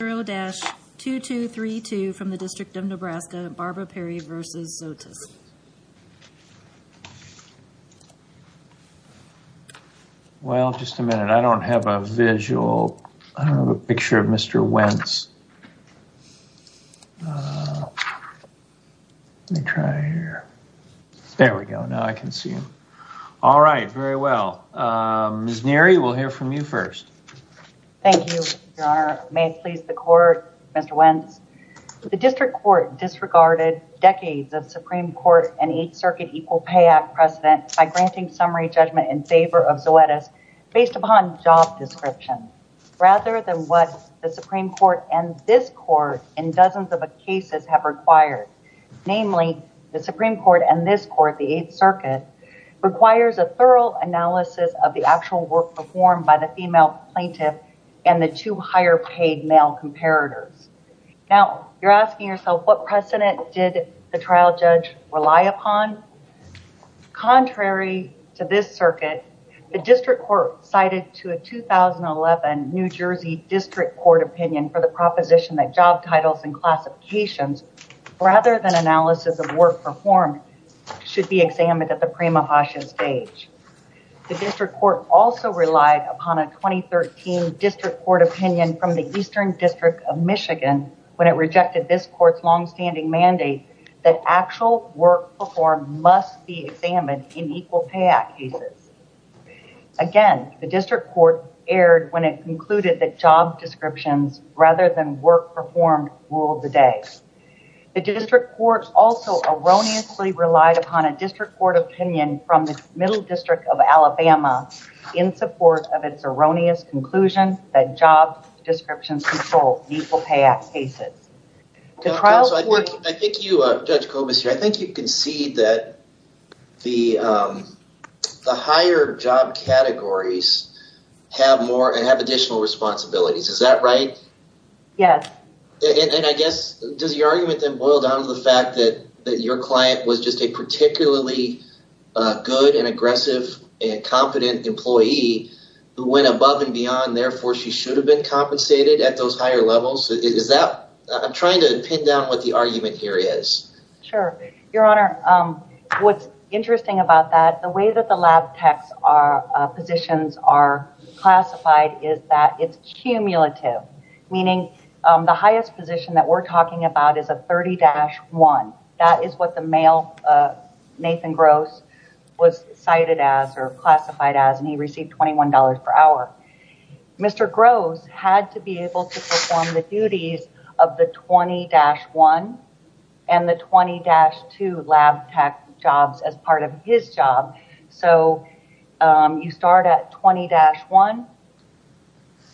0-2232 from the District of Nebraska, Barbara Perry v. Zoetis. Well just a minute, I don't have a visual, I don't have a picture of Mr. Wentz. Let me try here, there we go, now I can see him. All right, very well, Ms. Neary, we'll hear from you first. Thank you, Your Honor. May it please the court, Mr. Wentz. The District Court disregarded decades of Supreme Court and Eighth Circuit Equal Pay Act precedent by granting summary judgment in favor of Zoetis based upon job description rather than what the Supreme Court and this court in dozens of cases have required. Namely, the Supreme Court and this court, the Eighth Circuit, requires a thorough analysis of the actual work performed by the female plaintiff and the two higher paid male comparators. Now, you're asking yourself, what precedent did the trial judge rely upon? Contrary to this circuit, the District Court cited to a 2011 New Jersey District Court opinion for the proposition that job titles and classifications, rather than analysis of work performed, should be examined at the Mahasha stage. The District Court also relied upon a 2013 District Court opinion from the Eastern District of Michigan when it rejected this court's long-standing mandate that actual work performed must be examined in Equal Pay Act cases. Again, the District Court erred when it concluded that job descriptions rather than work performed ruled the day. The District Court also erroneously relied upon a District Court opinion from the Middle District of Alabama in support of its erroneous conclusion that job descriptions control Equal Pay Act cases. Judge Kobus, I think you concede that the higher job categories have additional responsibilities. Is that right? Yes. And I guess, does your argument then boil down to the fact that your client was just a particularly good and aggressive and confident employee who went above and beyond, therefore she should have been compensated at those higher levels? Is that... I'm trying to pin down what the argument here is. Sure. Your Honor, what's interesting about that, the way that the lab techs positions are classified is that it's cumulative, meaning the highest position that we're male, Nathan Gross, was cited as or classified as and he received $21 per hour. Mr. Gross had to be able to perform the duties of the 20-1 and the 20-2 lab tech jobs as part of his job. So you start at 20-1,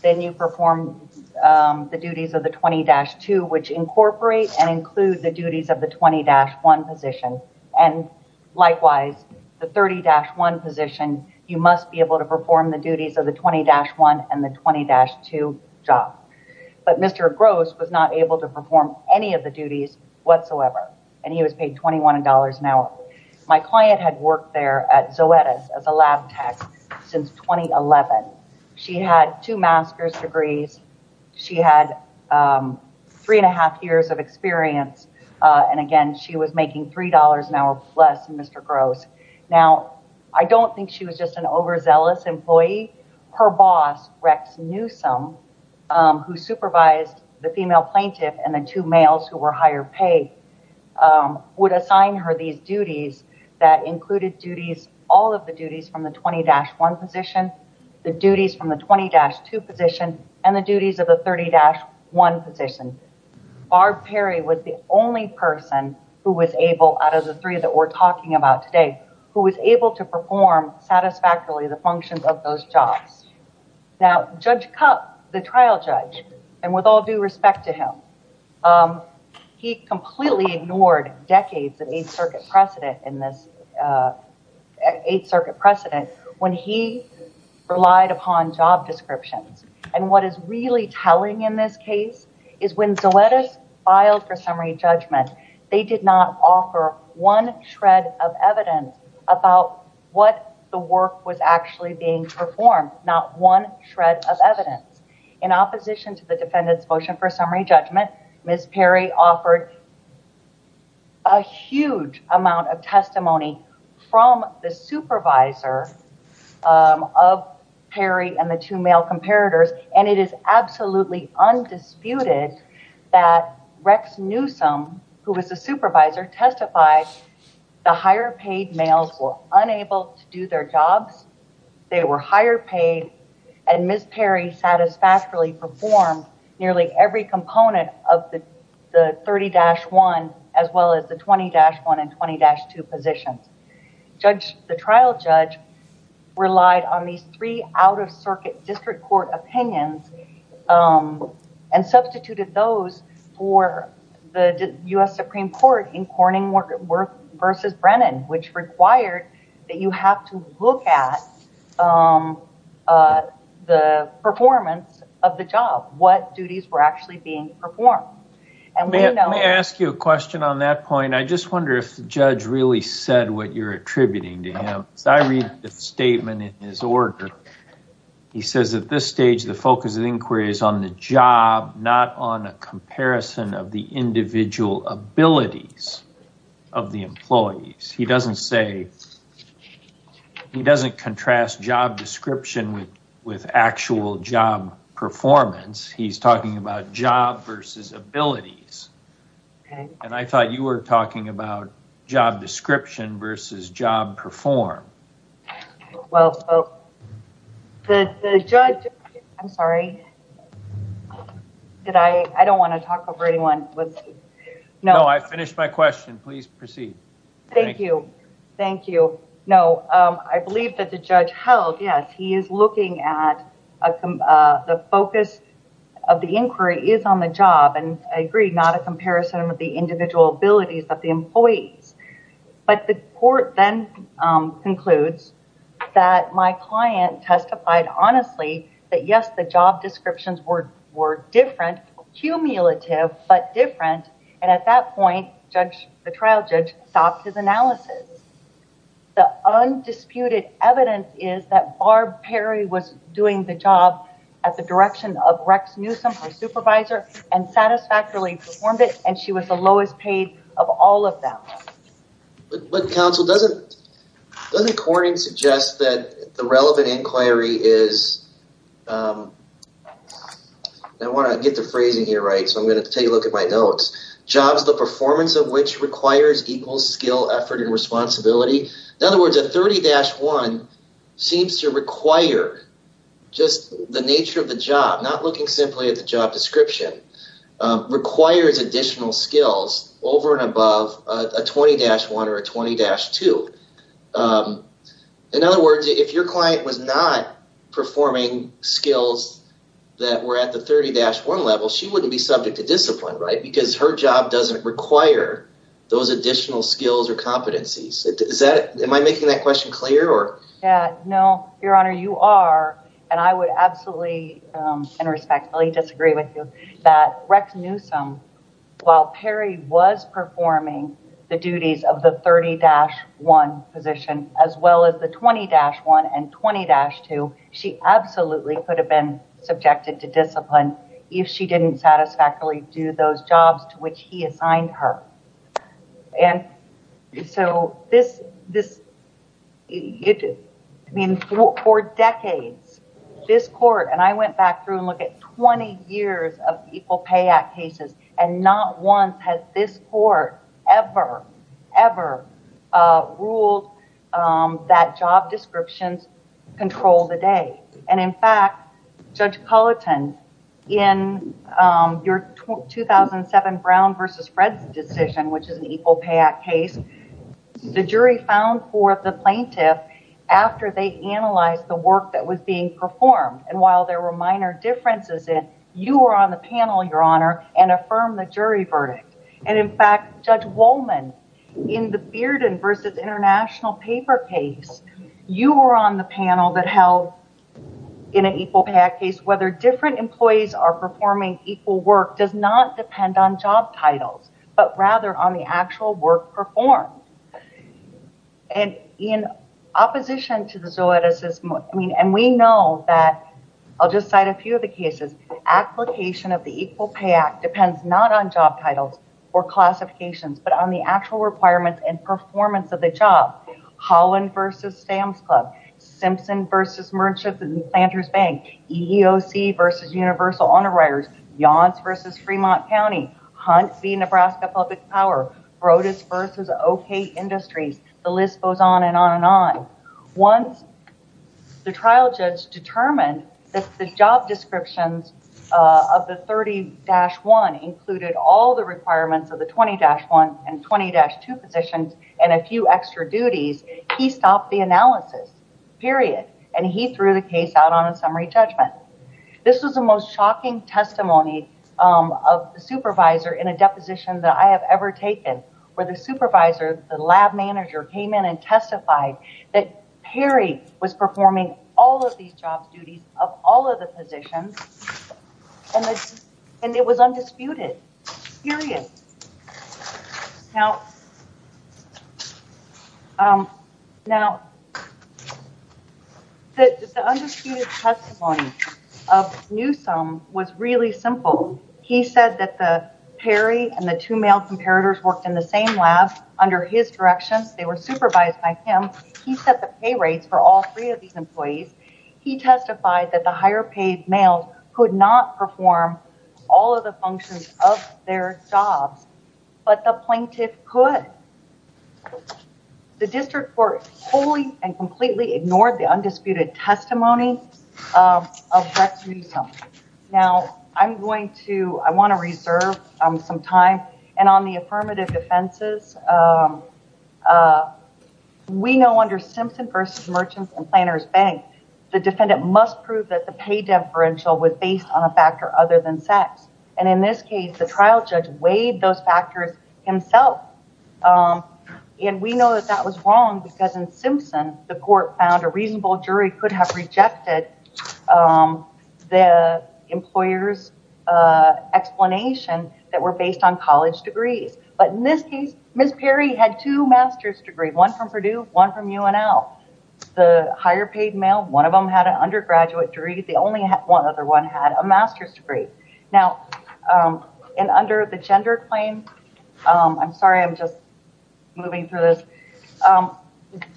then you perform the duties of the 20-2, which incorporate and include the duties of the 20-1 position, and likewise the 30-1 position, you must be able to perform the duties of the 20-1 and the 20-2 job. But Mr. Gross was not able to perform any of the duties whatsoever and he was paid $21 an hour. My client had worked there at Zoetis as a lab tech since 2011. She had two master's degrees, she had three and a half years of experience, and again she was making $3 an hour plus, Mr. Gross. Now I don't think she was just an overzealous employee. Her boss, Rex Newsome, who supervised the female plaintiff and the two males who were higher pay, would assign her these duties that included duties, all of the duties from the 20-1 position, the duties from the 20-2 position, and the duties of the 30-1 position. Barb Perry was the only person who was able, out of the three that we're talking about today, who was able to perform satisfactorily the functions of those jobs. Now Judge Cupp, the trial judge, and with all due respect to him, he completely ignored decades of job descriptions. And what is really telling in this case is when Zoetis filed for summary judgment, they did not offer one shred of evidence about what the work was actually being performed, not one shred of evidence. In opposition to the defendant's motion for summary judgment, Ms. Perry offered a huge amount of testimony from the supervisor of Perry and the two male comparators, and it is absolutely undisputed that Rex Newsome, who was the supervisor, testified the higher paid males were unable to do their jobs. They were higher paid and Ms. Perry satisfactorily performed nearly every component of the 30-1 as well as the 20-1 and 20-2 positions. The trial judge relied on these three out-of-circuit district court opinions and substituted those for the U.S. Supreme Court in Corning v. Brennan, which required that you have to look at the performance of the job, what duties were actually being performed. May I ask you a question on that point? I just wonder if the judge really said what you're attributing to him. I read the statement in his order. He says at this stage the focus of inquiry is on the job, not on a comparison of the individual abilities of the employees. He doesn't say he doesn't contrast job description with with actual job performance. He's talking about job versus abilities. I thought you were talking about job description versus job perform. I'm sorry. I don't want to talk over anyone. I finished my question. Please proceed. Thank you. I believe that the judge held, yes, he is looking at the focus of the inquiry is on the job, and I agree, not a comparison of the individual abilities of the employees. But the court then concludes that my client testified honestly that, yes, the job descriptions were different, cumulative, but different, and at that point the trial judge stopped his analysis. The undisputed evidence is that Barb Perry was doing the job at the direction of Rex Newsome, her supervisor, and satisfactorily performed it, and she was the lowest paid of all of them. But counsel, doesn't Corning suggest that the relevant inquiry is, I want to get the phrasing here right, so I'm going to take a look at my notes, jobs the performance of which requires equal skill, effort, and responsibility. In other words, a 30-1 seems to require just the nature of the job, not looking simply at the job description, requires additional skills over and above a 20-1 or a 20-2. In other words, if your client was not performing skills that were at the 30-1 level, she wouldn't be subject to discipline, right, because her job doesn't require those additional skills or competencies. Am I making that question clear? No, your honor, you are, and I would absolutely and respectfully disagree with you that Rex Newsome, while Perry was performing the duties of the 30-1 position, as well as the 20-1 and 20-2, she absolutely could have been subjected to discipline if she didn't satisfactorily do those jobs to which he assigned her. And so this, I mean for decades, this court, and I went back through and look at 20 years of Equal Pay Act cases, and not once has this court ever, ever ruled that job your 2007 Brown versus Fred's decision, which is an Equal Pay Act case, the jury found for the plaintiff after they analyzed the work that was being performed, and while there were minor differences in, you were on the panel, your honor, and affirm the jury verdict. And in fact, Judge Wollman, in the Bearden versus International Paper case, you were on the panel that held, in an Equal Pay Act case, whether different employees are performing equal work does not depend on job titles, but rather on the actual work performed. And in opposition to the Zoeticism, I mean, and we know that, I'll just cite a few of the cases, application of the Equal Pay Act depends not on job titles or classifications, but on the actual requirements and performance of the job. Holland versus Sam's Club, Simpson versus Merchants and Planters Bank, EEOC versus Universal Honor Writers, Yonce versus Fremont County, Hunt v. Nebraska Public Power, Brodus versus OK Industries, the list goes on and on and on. Once the trial judge determined that the job descriptions of the 30-1 included all the requirements of the 20-1 and 20-2 positions and a few extra duties, he stopped the analysis, period, and he threw the case out on a summary judgment. This was the most shocking testimony of the supervisor in a deposition that I have ever taken, where the supervisor, the lab manager, came in and testified that Perry was performing all of these jobs duties of all of the positions and it was undisputed, period. Now, the undisputed testimony of Newsome was really simple. He said that the Perry and the two male comparators worked in the same lab under his direction. They were supervised by him. He set the pay rates for all three of these employees. He testified that the higher paid males could not perform all of the functions of their jobs, but the plaintiff could. The district court wholly and completely ignored the undisputed testimony of Brett Newsome. Now, I'm going to, I want to reserve some time and on the affirmative defenses, we know under Simpson v. Merchants and Planners Bank, the defendant must prove that the pay differential was based on a factor other than sex, and in this case, the trial judge weighed those factors himself, and we know that that was wrong because in Simpson, the court found a reasonable jury could have rejected the employer's explanation that were based on college degrees, but in this case, Ms. Perry had two master's degrees, one from Purdue, one from UNL. The higher paid male, one of them had an undergraduate degree. The only one other one had a master's degree. Now, and under the gender claim, I'm sorry, I'm just moving through this.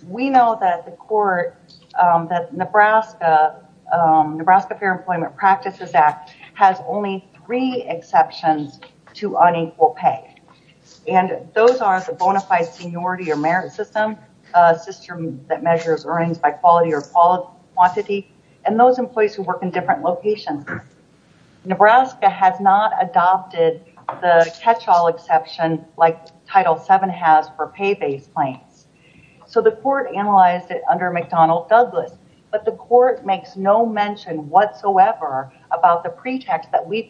We know that the court, that Nebraska, Nebraska Fair Employment Practices Act has only three exceptions to unequal pay, and those are the bona fide seniority or merit system, a system that measures earnings by quality or quantity, and those employees who work in different locations. Nebraska has not adopted the catch-all exception like Title VII has for pay-based claims, so the court analyzed it under McDonald- Douglas, but the court makes no mention whatsoever about the pretext that we have. We know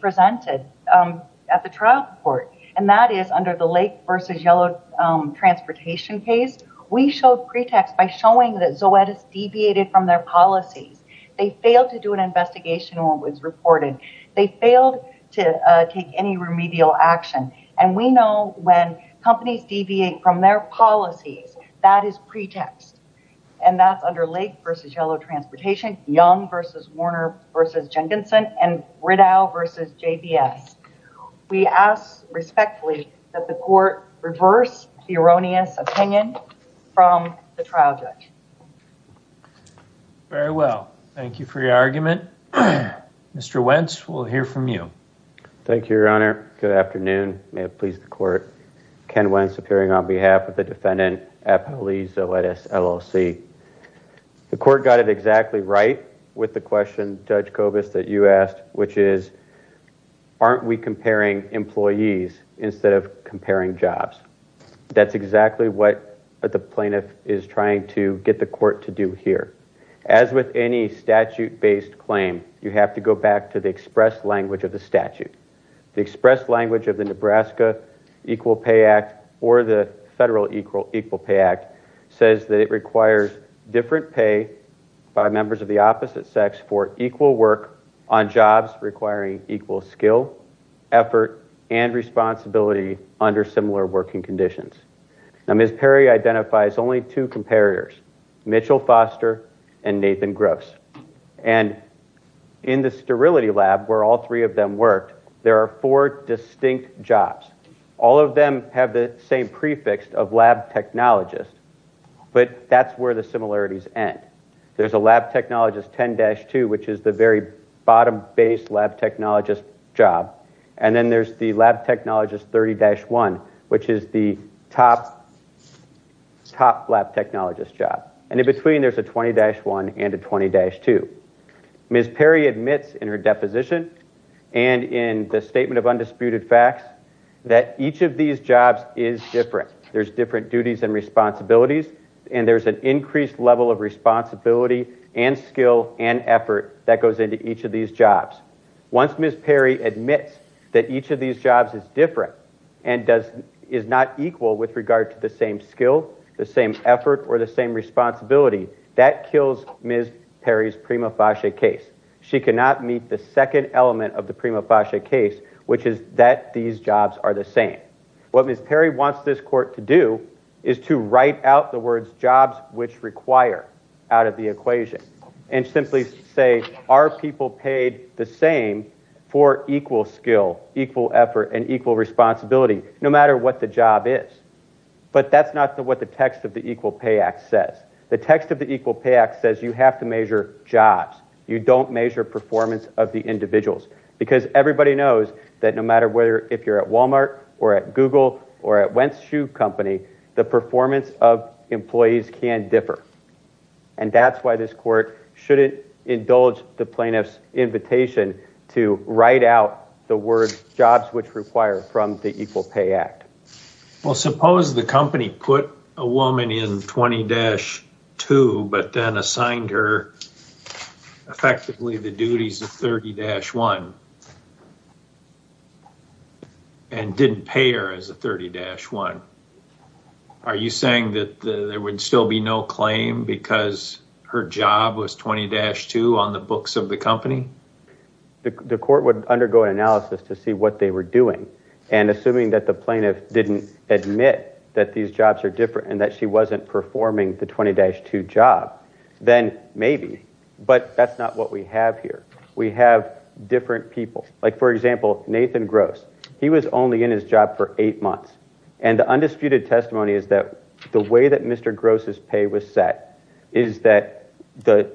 that Zoetis, under the Lake v. Yellow Transportation case, we showed pretext by showing that Zoetis deviated from their policies. They failed to do an investigation when it was reported. They failed to take any remedial action, and we know when companies deviate from their policies, that is pretext, and that's under Lake v. Yellow Transportation, Young v. Warner v. that the court reversed the erroneous opinion from the trial judge. Very well. Thank you for your argument. Mr. Wentz, we'll hear from you. Thank you, Your Honor. Good afternoon. May it please the court. Ken Wentz, appearing on behalf of the defendant at Police Zoetis LLC. The court got it exactly right with the question, Judge Kobus, that you asked, which is, aren't we comparing employees instead of comparing jobs? That's exactly what the plaintiff is trying to get the court to do here. As with any statute-based claim, you have to go back to the express language of the statute. The express language of the Nebraska Equal Pay Act, or the federal Equal Pay Act, says that it requires different pay by members of the opposite sex for equal work on jobs requiring equal skill, effort, and responsibility under similar working conditions. Now, Ms. Perry identifies only two comparators, Mitchell Foster and Nathan Gross. And in the sterility lab, where all three of them worked, there are four distinct jobs. All of them have the same prefix of lab technologist, but that's where the similarities end. There's a lab technologist 10-2, which is the very bottom-based lab technologist job. And then there's the lab technologist 30-1, which is the top lab technologist job. And in between, there's a 20-1 and a 20-2. Ms. Perry admits in her deposition and in the statement of undisputed facts that each of these jobs is different. There's different duties and responsibilities, and there's an increased level of responsibility and skill and responsibility that goes into each of these jobs. Once Ms. Perry admits that each of these jobs is different and is not equal with regard to the same skill, the same effort, or the same responsibility, that kills Ms. Perry's prima facie case. She cannot meet the second element of the prima facie case, which is that these jobs are the same. What Ms. Perry wants this court to do is to write out the words jobs which require out of the equation and simply say, are people paid the same for equal skill, equal effort, and equal responsibility, no matter what the job is. But that's not what the text of the Equal Pay Act says. The text of the Equal Pay Act says you have to measure jobs. You don't measure performance of the individuals. Because everybody knows that no matter whether if you're at Walmart or at Google or at Wentz Shoe Company, the performance of employees can differ. And that's why this court shouldn't indulge the plaintiff's invitation to write out the words jobs which require from the Equal Pay Act. Well, suppose the company put a woman in 20-2 but then assigned her effectively the duties of 30-1 and didn't pay her as a 30-1. Are you saying that there would still be no claim because her job was 20-2 on the books of the company? The court would undergo an analysis to see what they were doing. And assuming that the plaintiff didn't admit that these jobs are different and that she wasn't performing the 20-2 job, then maybe. But that's not what we have here. We have different people. Like for example, Nathan Gross. He was only in his job for eight months. And the undisputed testimony is that the way that Mr. Gross's pay was set is that the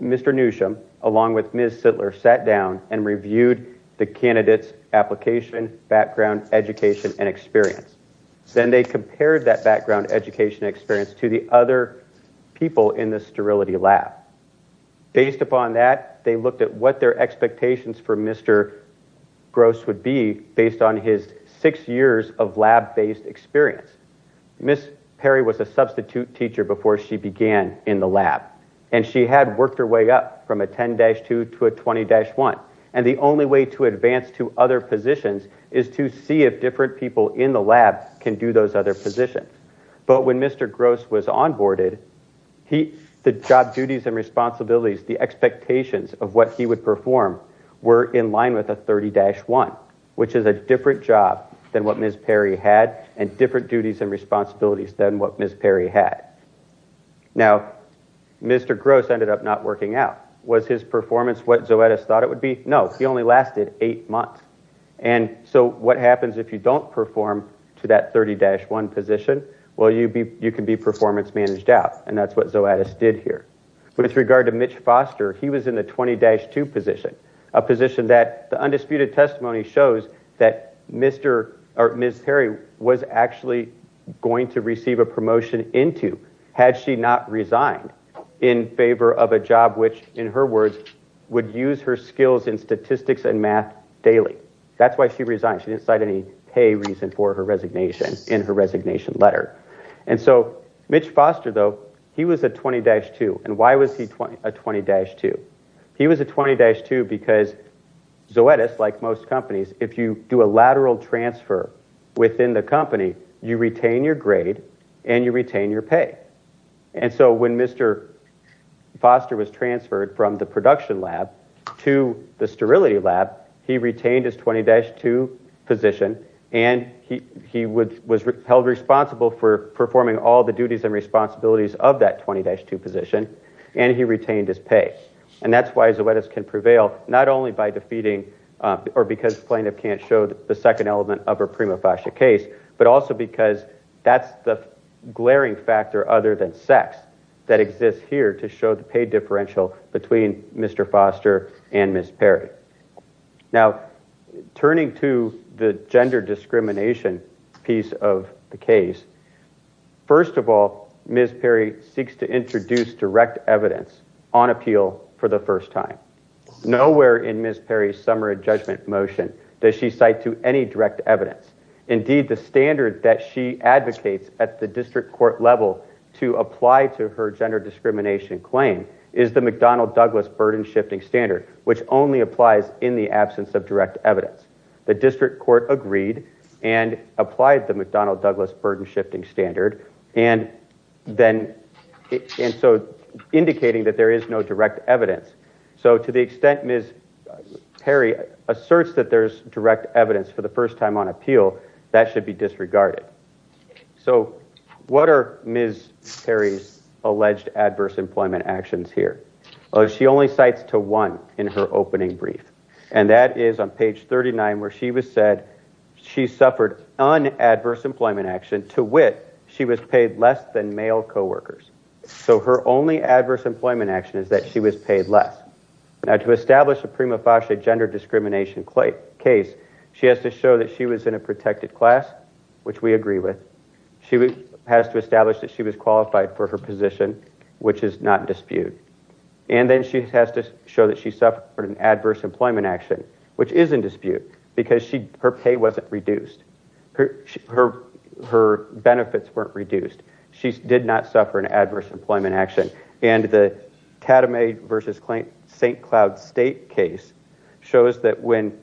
Mr. Newsham along with Ms. Sittler sat down and reviewed the candidate's application, background, education, and experience. Then they compared that background, education, experience to the other people in the lab to see what their expectations for Mr. Gross would be based on his six years of lab-based experience. Ms. Perry was a substitute teacher before she began in the lab. And she had worked her way up from a 10-2 to a 20-1. And the only way to advance to other positions is to see if different people in the lab can do those other positions. But when Mr. Gross was onboarded, the job duties and responsibilities, the expectations of what he would perform were in line with a 30-1, which is a different job than what Ms. Perry had and different duties and responsibilities than what Ms. Perry had. Now, Mr. Gross ended up not working out. Was his performance what Zoetis thought it would be? No. He only lasted eight months. And so what happens if you don't perform to that 30-1 position? Well, you can be performance managed out. And that's what with regard to Mitch Foster, he was in the 20-2 position, a position that the undisputed testimony shows that Mr. or Ms. Perry was actually going to receive a promotion into had she not resigned in favor of a job which, in her words, would use her skills in statistics and math daily. That's why she resigned. She didn't cite any pay reason for her resignation in her resignation letter. And so Mitch Foster, though, he was a 20-2. And why was he a 20-2? He was a 20-2 because Zoetis, like most companies, if you do a lateral transfer within the company, you retain your grade and you retain your pay. And so when Mr. Foster was transferred from the production lab to the sterility lab, he retained his 20-2 position. And he was held responsible for performing all the duties and responsibilities of that 20-2 position. And he retained his pay. And that's why Zoetis can prevail, not only by defeating or because plaintiff can't show the second element of her prima facie case, but also because that's the glaring factor other than sex that exists here to show the pay differential between Mr. Foster and Ms. Perry. Now, turning to the gender discrimination piece of the case, first of all, Ms. Perry seeks to introduce direct evidence on appeal for the first time. Nowhere in Ms. Perry's summary judgment motion does she cite to any direct evidence. Indeed, the standard that she advocates at the district court level to apply to her gender discrimination claim is the McDonnell Douglas burden-shifting standard, which only applies in the absence of direct evidence. The district court agreed and applied the McDonnell Douglas burden-shifting standard and then, and so indicating that there is no direct evidence. So to the extent Ms. Perry asserts that there's direct evidence for the first time on appeal, that should be disregarded. So what are Ms. Perry's adverse employment actions here? Well, she only cites to one in her opening brief and that is on page 39 where she was said she suffered unadverse employment action to wit she was paid less than male co-workers. So her only adverse employment action is that she was paid less. Now to establish a prima facie gender discrimination case, she has to show that she was in a protected class, which we agree with. She has to establish that she was in a position, which is not in dispute. And then she has to show that she suffered an adverse employment action, which is in dispute because her pay wasn't reduced. Her benefits weren't reduced. She did not suffer an adverse employment action. And the Tatamay v. St. Cloud State case shows that when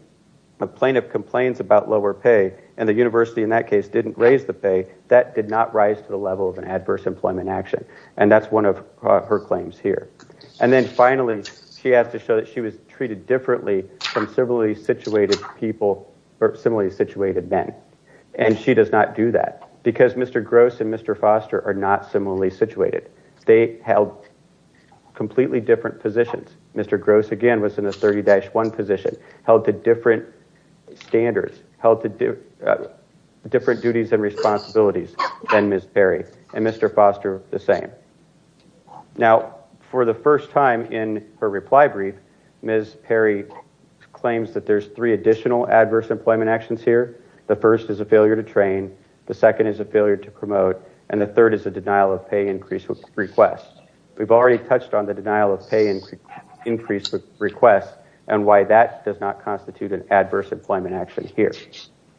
a plaintiff complains about lower pay and the university in that case didn't raise the pay, that did not rise to the level of an adverse employment action. And that's one of her claims here. And then finally, she has to show that she was treated differently from similarly situated people or similarly situated men. And she does not do that because Mr. Gross and Mr. Foster are not similarly situated. They held completely different positions. Mr. Gross again was in a 30-1 position, held to different standards, held to different duties and the same. Now, for the first time in her reply brief, Ms. Perry claims that there's three additional adverse employment actions here. The first is a failure to train, the second is a failure to promote, and the third is a denial of pay increase request. We've already touched on the denial of pay increase request and why that does not constitute an adverse employment action here.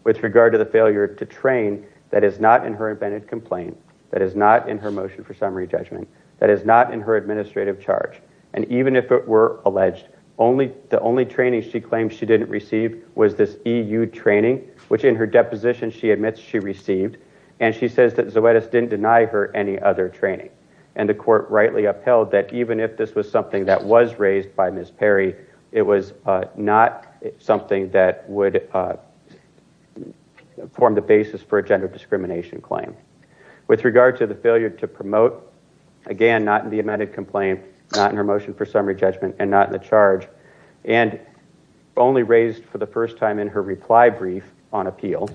With regard to the failure to train, that is not in her invented complaint, that is not in her motion for summary judgment, that is not in her administrative charge. And even if it were alleged, the only training she claimed she didn't receive was this EU training, which in her deposition she admits she received. And she says that Zoetis didn't deny her any other training. And the court rightly upheld that even if this was something that was raised by Ms. Perry, it was not something that would form the basis for a gender discrimination claim. With regard to the failure to promote, again not in the amended complaint, not in her motion for summary judgment, and not in the charge, and only raised for the first time in her reply brief on appeal.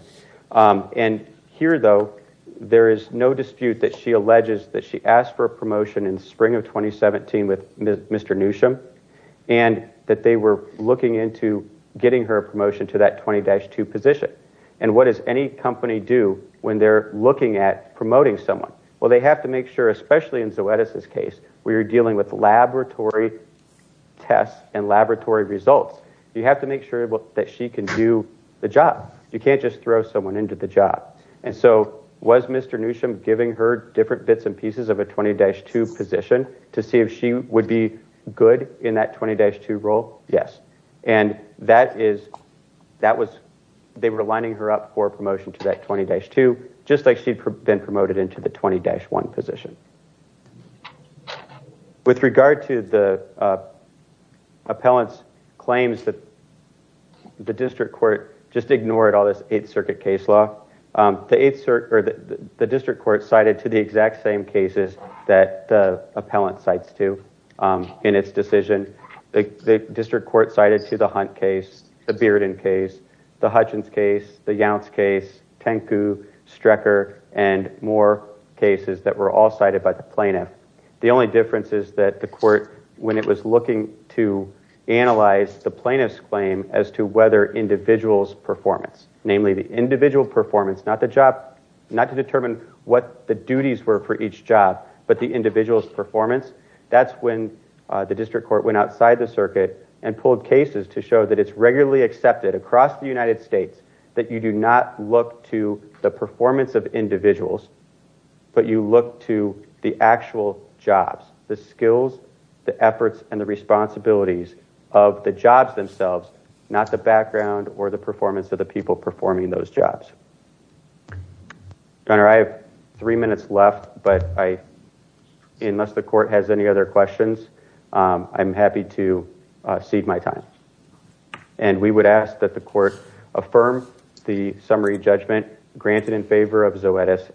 And here though, there is no dispute that she alleges that she asked for a promotion in spring of 2017 with Mr. Newsham, and that they were looking into getting her a promotion to that 20-2 position. And what does any company do when they're looking at promoting someone? Well they have to make sure, especially in Zoetis's case, we were dealing with laboratory tests and laboratory results. You have to make sure that she can do the job. You can't just throw someone into the job. And so was Mr. Newsham giving her different bits and pieces of a 20-2 position to see if she would be good in that 20-2 role? Yes. And that is, that was, they were lining her up for a promotion to that 20-2, just like she'd been promoted into the 20-1 position. With regard to the appellant's claims that the district court just ignored all this 8th Circuit case law, the 8th Circuit, or the 20-2 in its decision, the district court cited to the Hunt case, the Bearden case, the Hutchins case, the Younts case, Tenku, Strecker, and more cases that were all cited by the plaintiff. The only difference is that the court, when it was looking to analyze the plaintiff's claim as to whether individuals' performance, namely the individual performance, not the job, not to determine what the duties were for each job, but the individual's performance, that's when the district court went outside the circuit and pulled cases to show that it's regularly accepted across the United States that you do not look to the performance of individuals, but you look to the actual jobs, the skills, the efforts, and the responsibilities of the jobs themselves, not the background or the performance of people performing those jobs. Governor, I have three minutes left, but unless the court has any other questions, I'm happy to cede my time. And we would ask that the court affirm the summary judgment granted in favor of Zoetis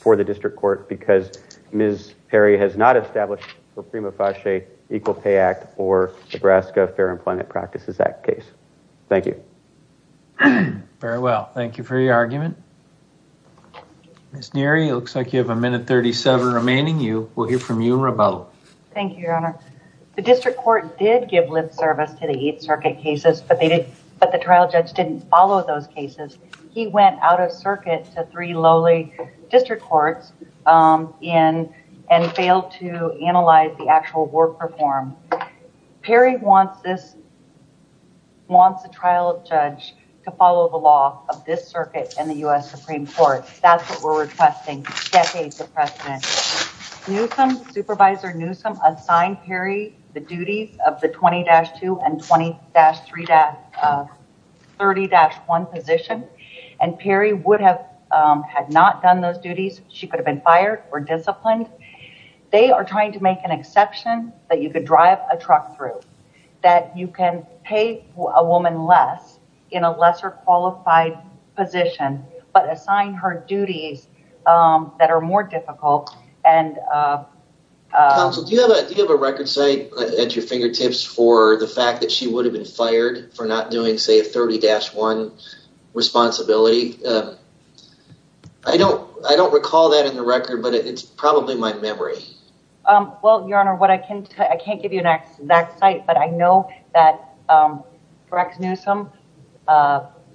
for the district court because Ms. Perry has not established the Prima Fache Equal Pay Act or Nebraska Fair Employment Practices Act case. Thank you. Very well. Thank you for your argument. Ms. Neary, it looks like you have a minute 37 remaining. We'll hear from you and Rabel. Thank you, Your Honor. The district court did give lip service to the Eighth Circuit cases, but the trial judge didn't follow those cases. He went out of circuit to three lowly district courts and failed to analyze the actual work performed. Perry wants this, wants the trial judge to follow the law of this circuit in the U.S. Supreme Court. That's what we're requesting decades of precedent. Newsom, Supervisor Newsom, assigned Perry the duties of the 20-2 and 20-3, 30-1 position, and Perry would have, had not done those duties, she could have been fired or they are trying to make an exception that you could drive a truck through, that you can pay a woman less in a lesser qualified position, but assign her duties that are more difficult. Counsel, do you have a record say at your fingertips for the fact that she would have been fired for not doing, say, a 30-1 responsibility? I don't recall that in the record, but it's Well, Your Honor, what I can tell you, I can't give you an exact site, but I know that Rex Newsom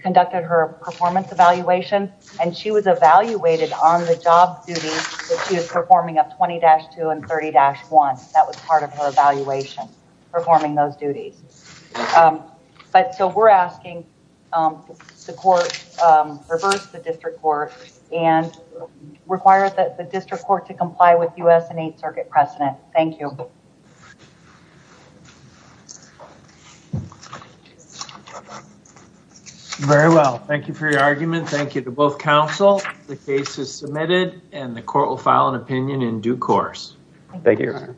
conducted her performance evaluation and she was evaluated on the job duties that she was performing of 20-2 and 30-1. That was part of her evaluation, performing those duties, but so we're asking the court reverse the district court and require that the district court to comply with U.S. and Eighth Circuit precedent. Thank you. Very well. Thank you for your argument. Thank you to both counsel. The case is submitted and the court will file an opinion in due course. Thank you.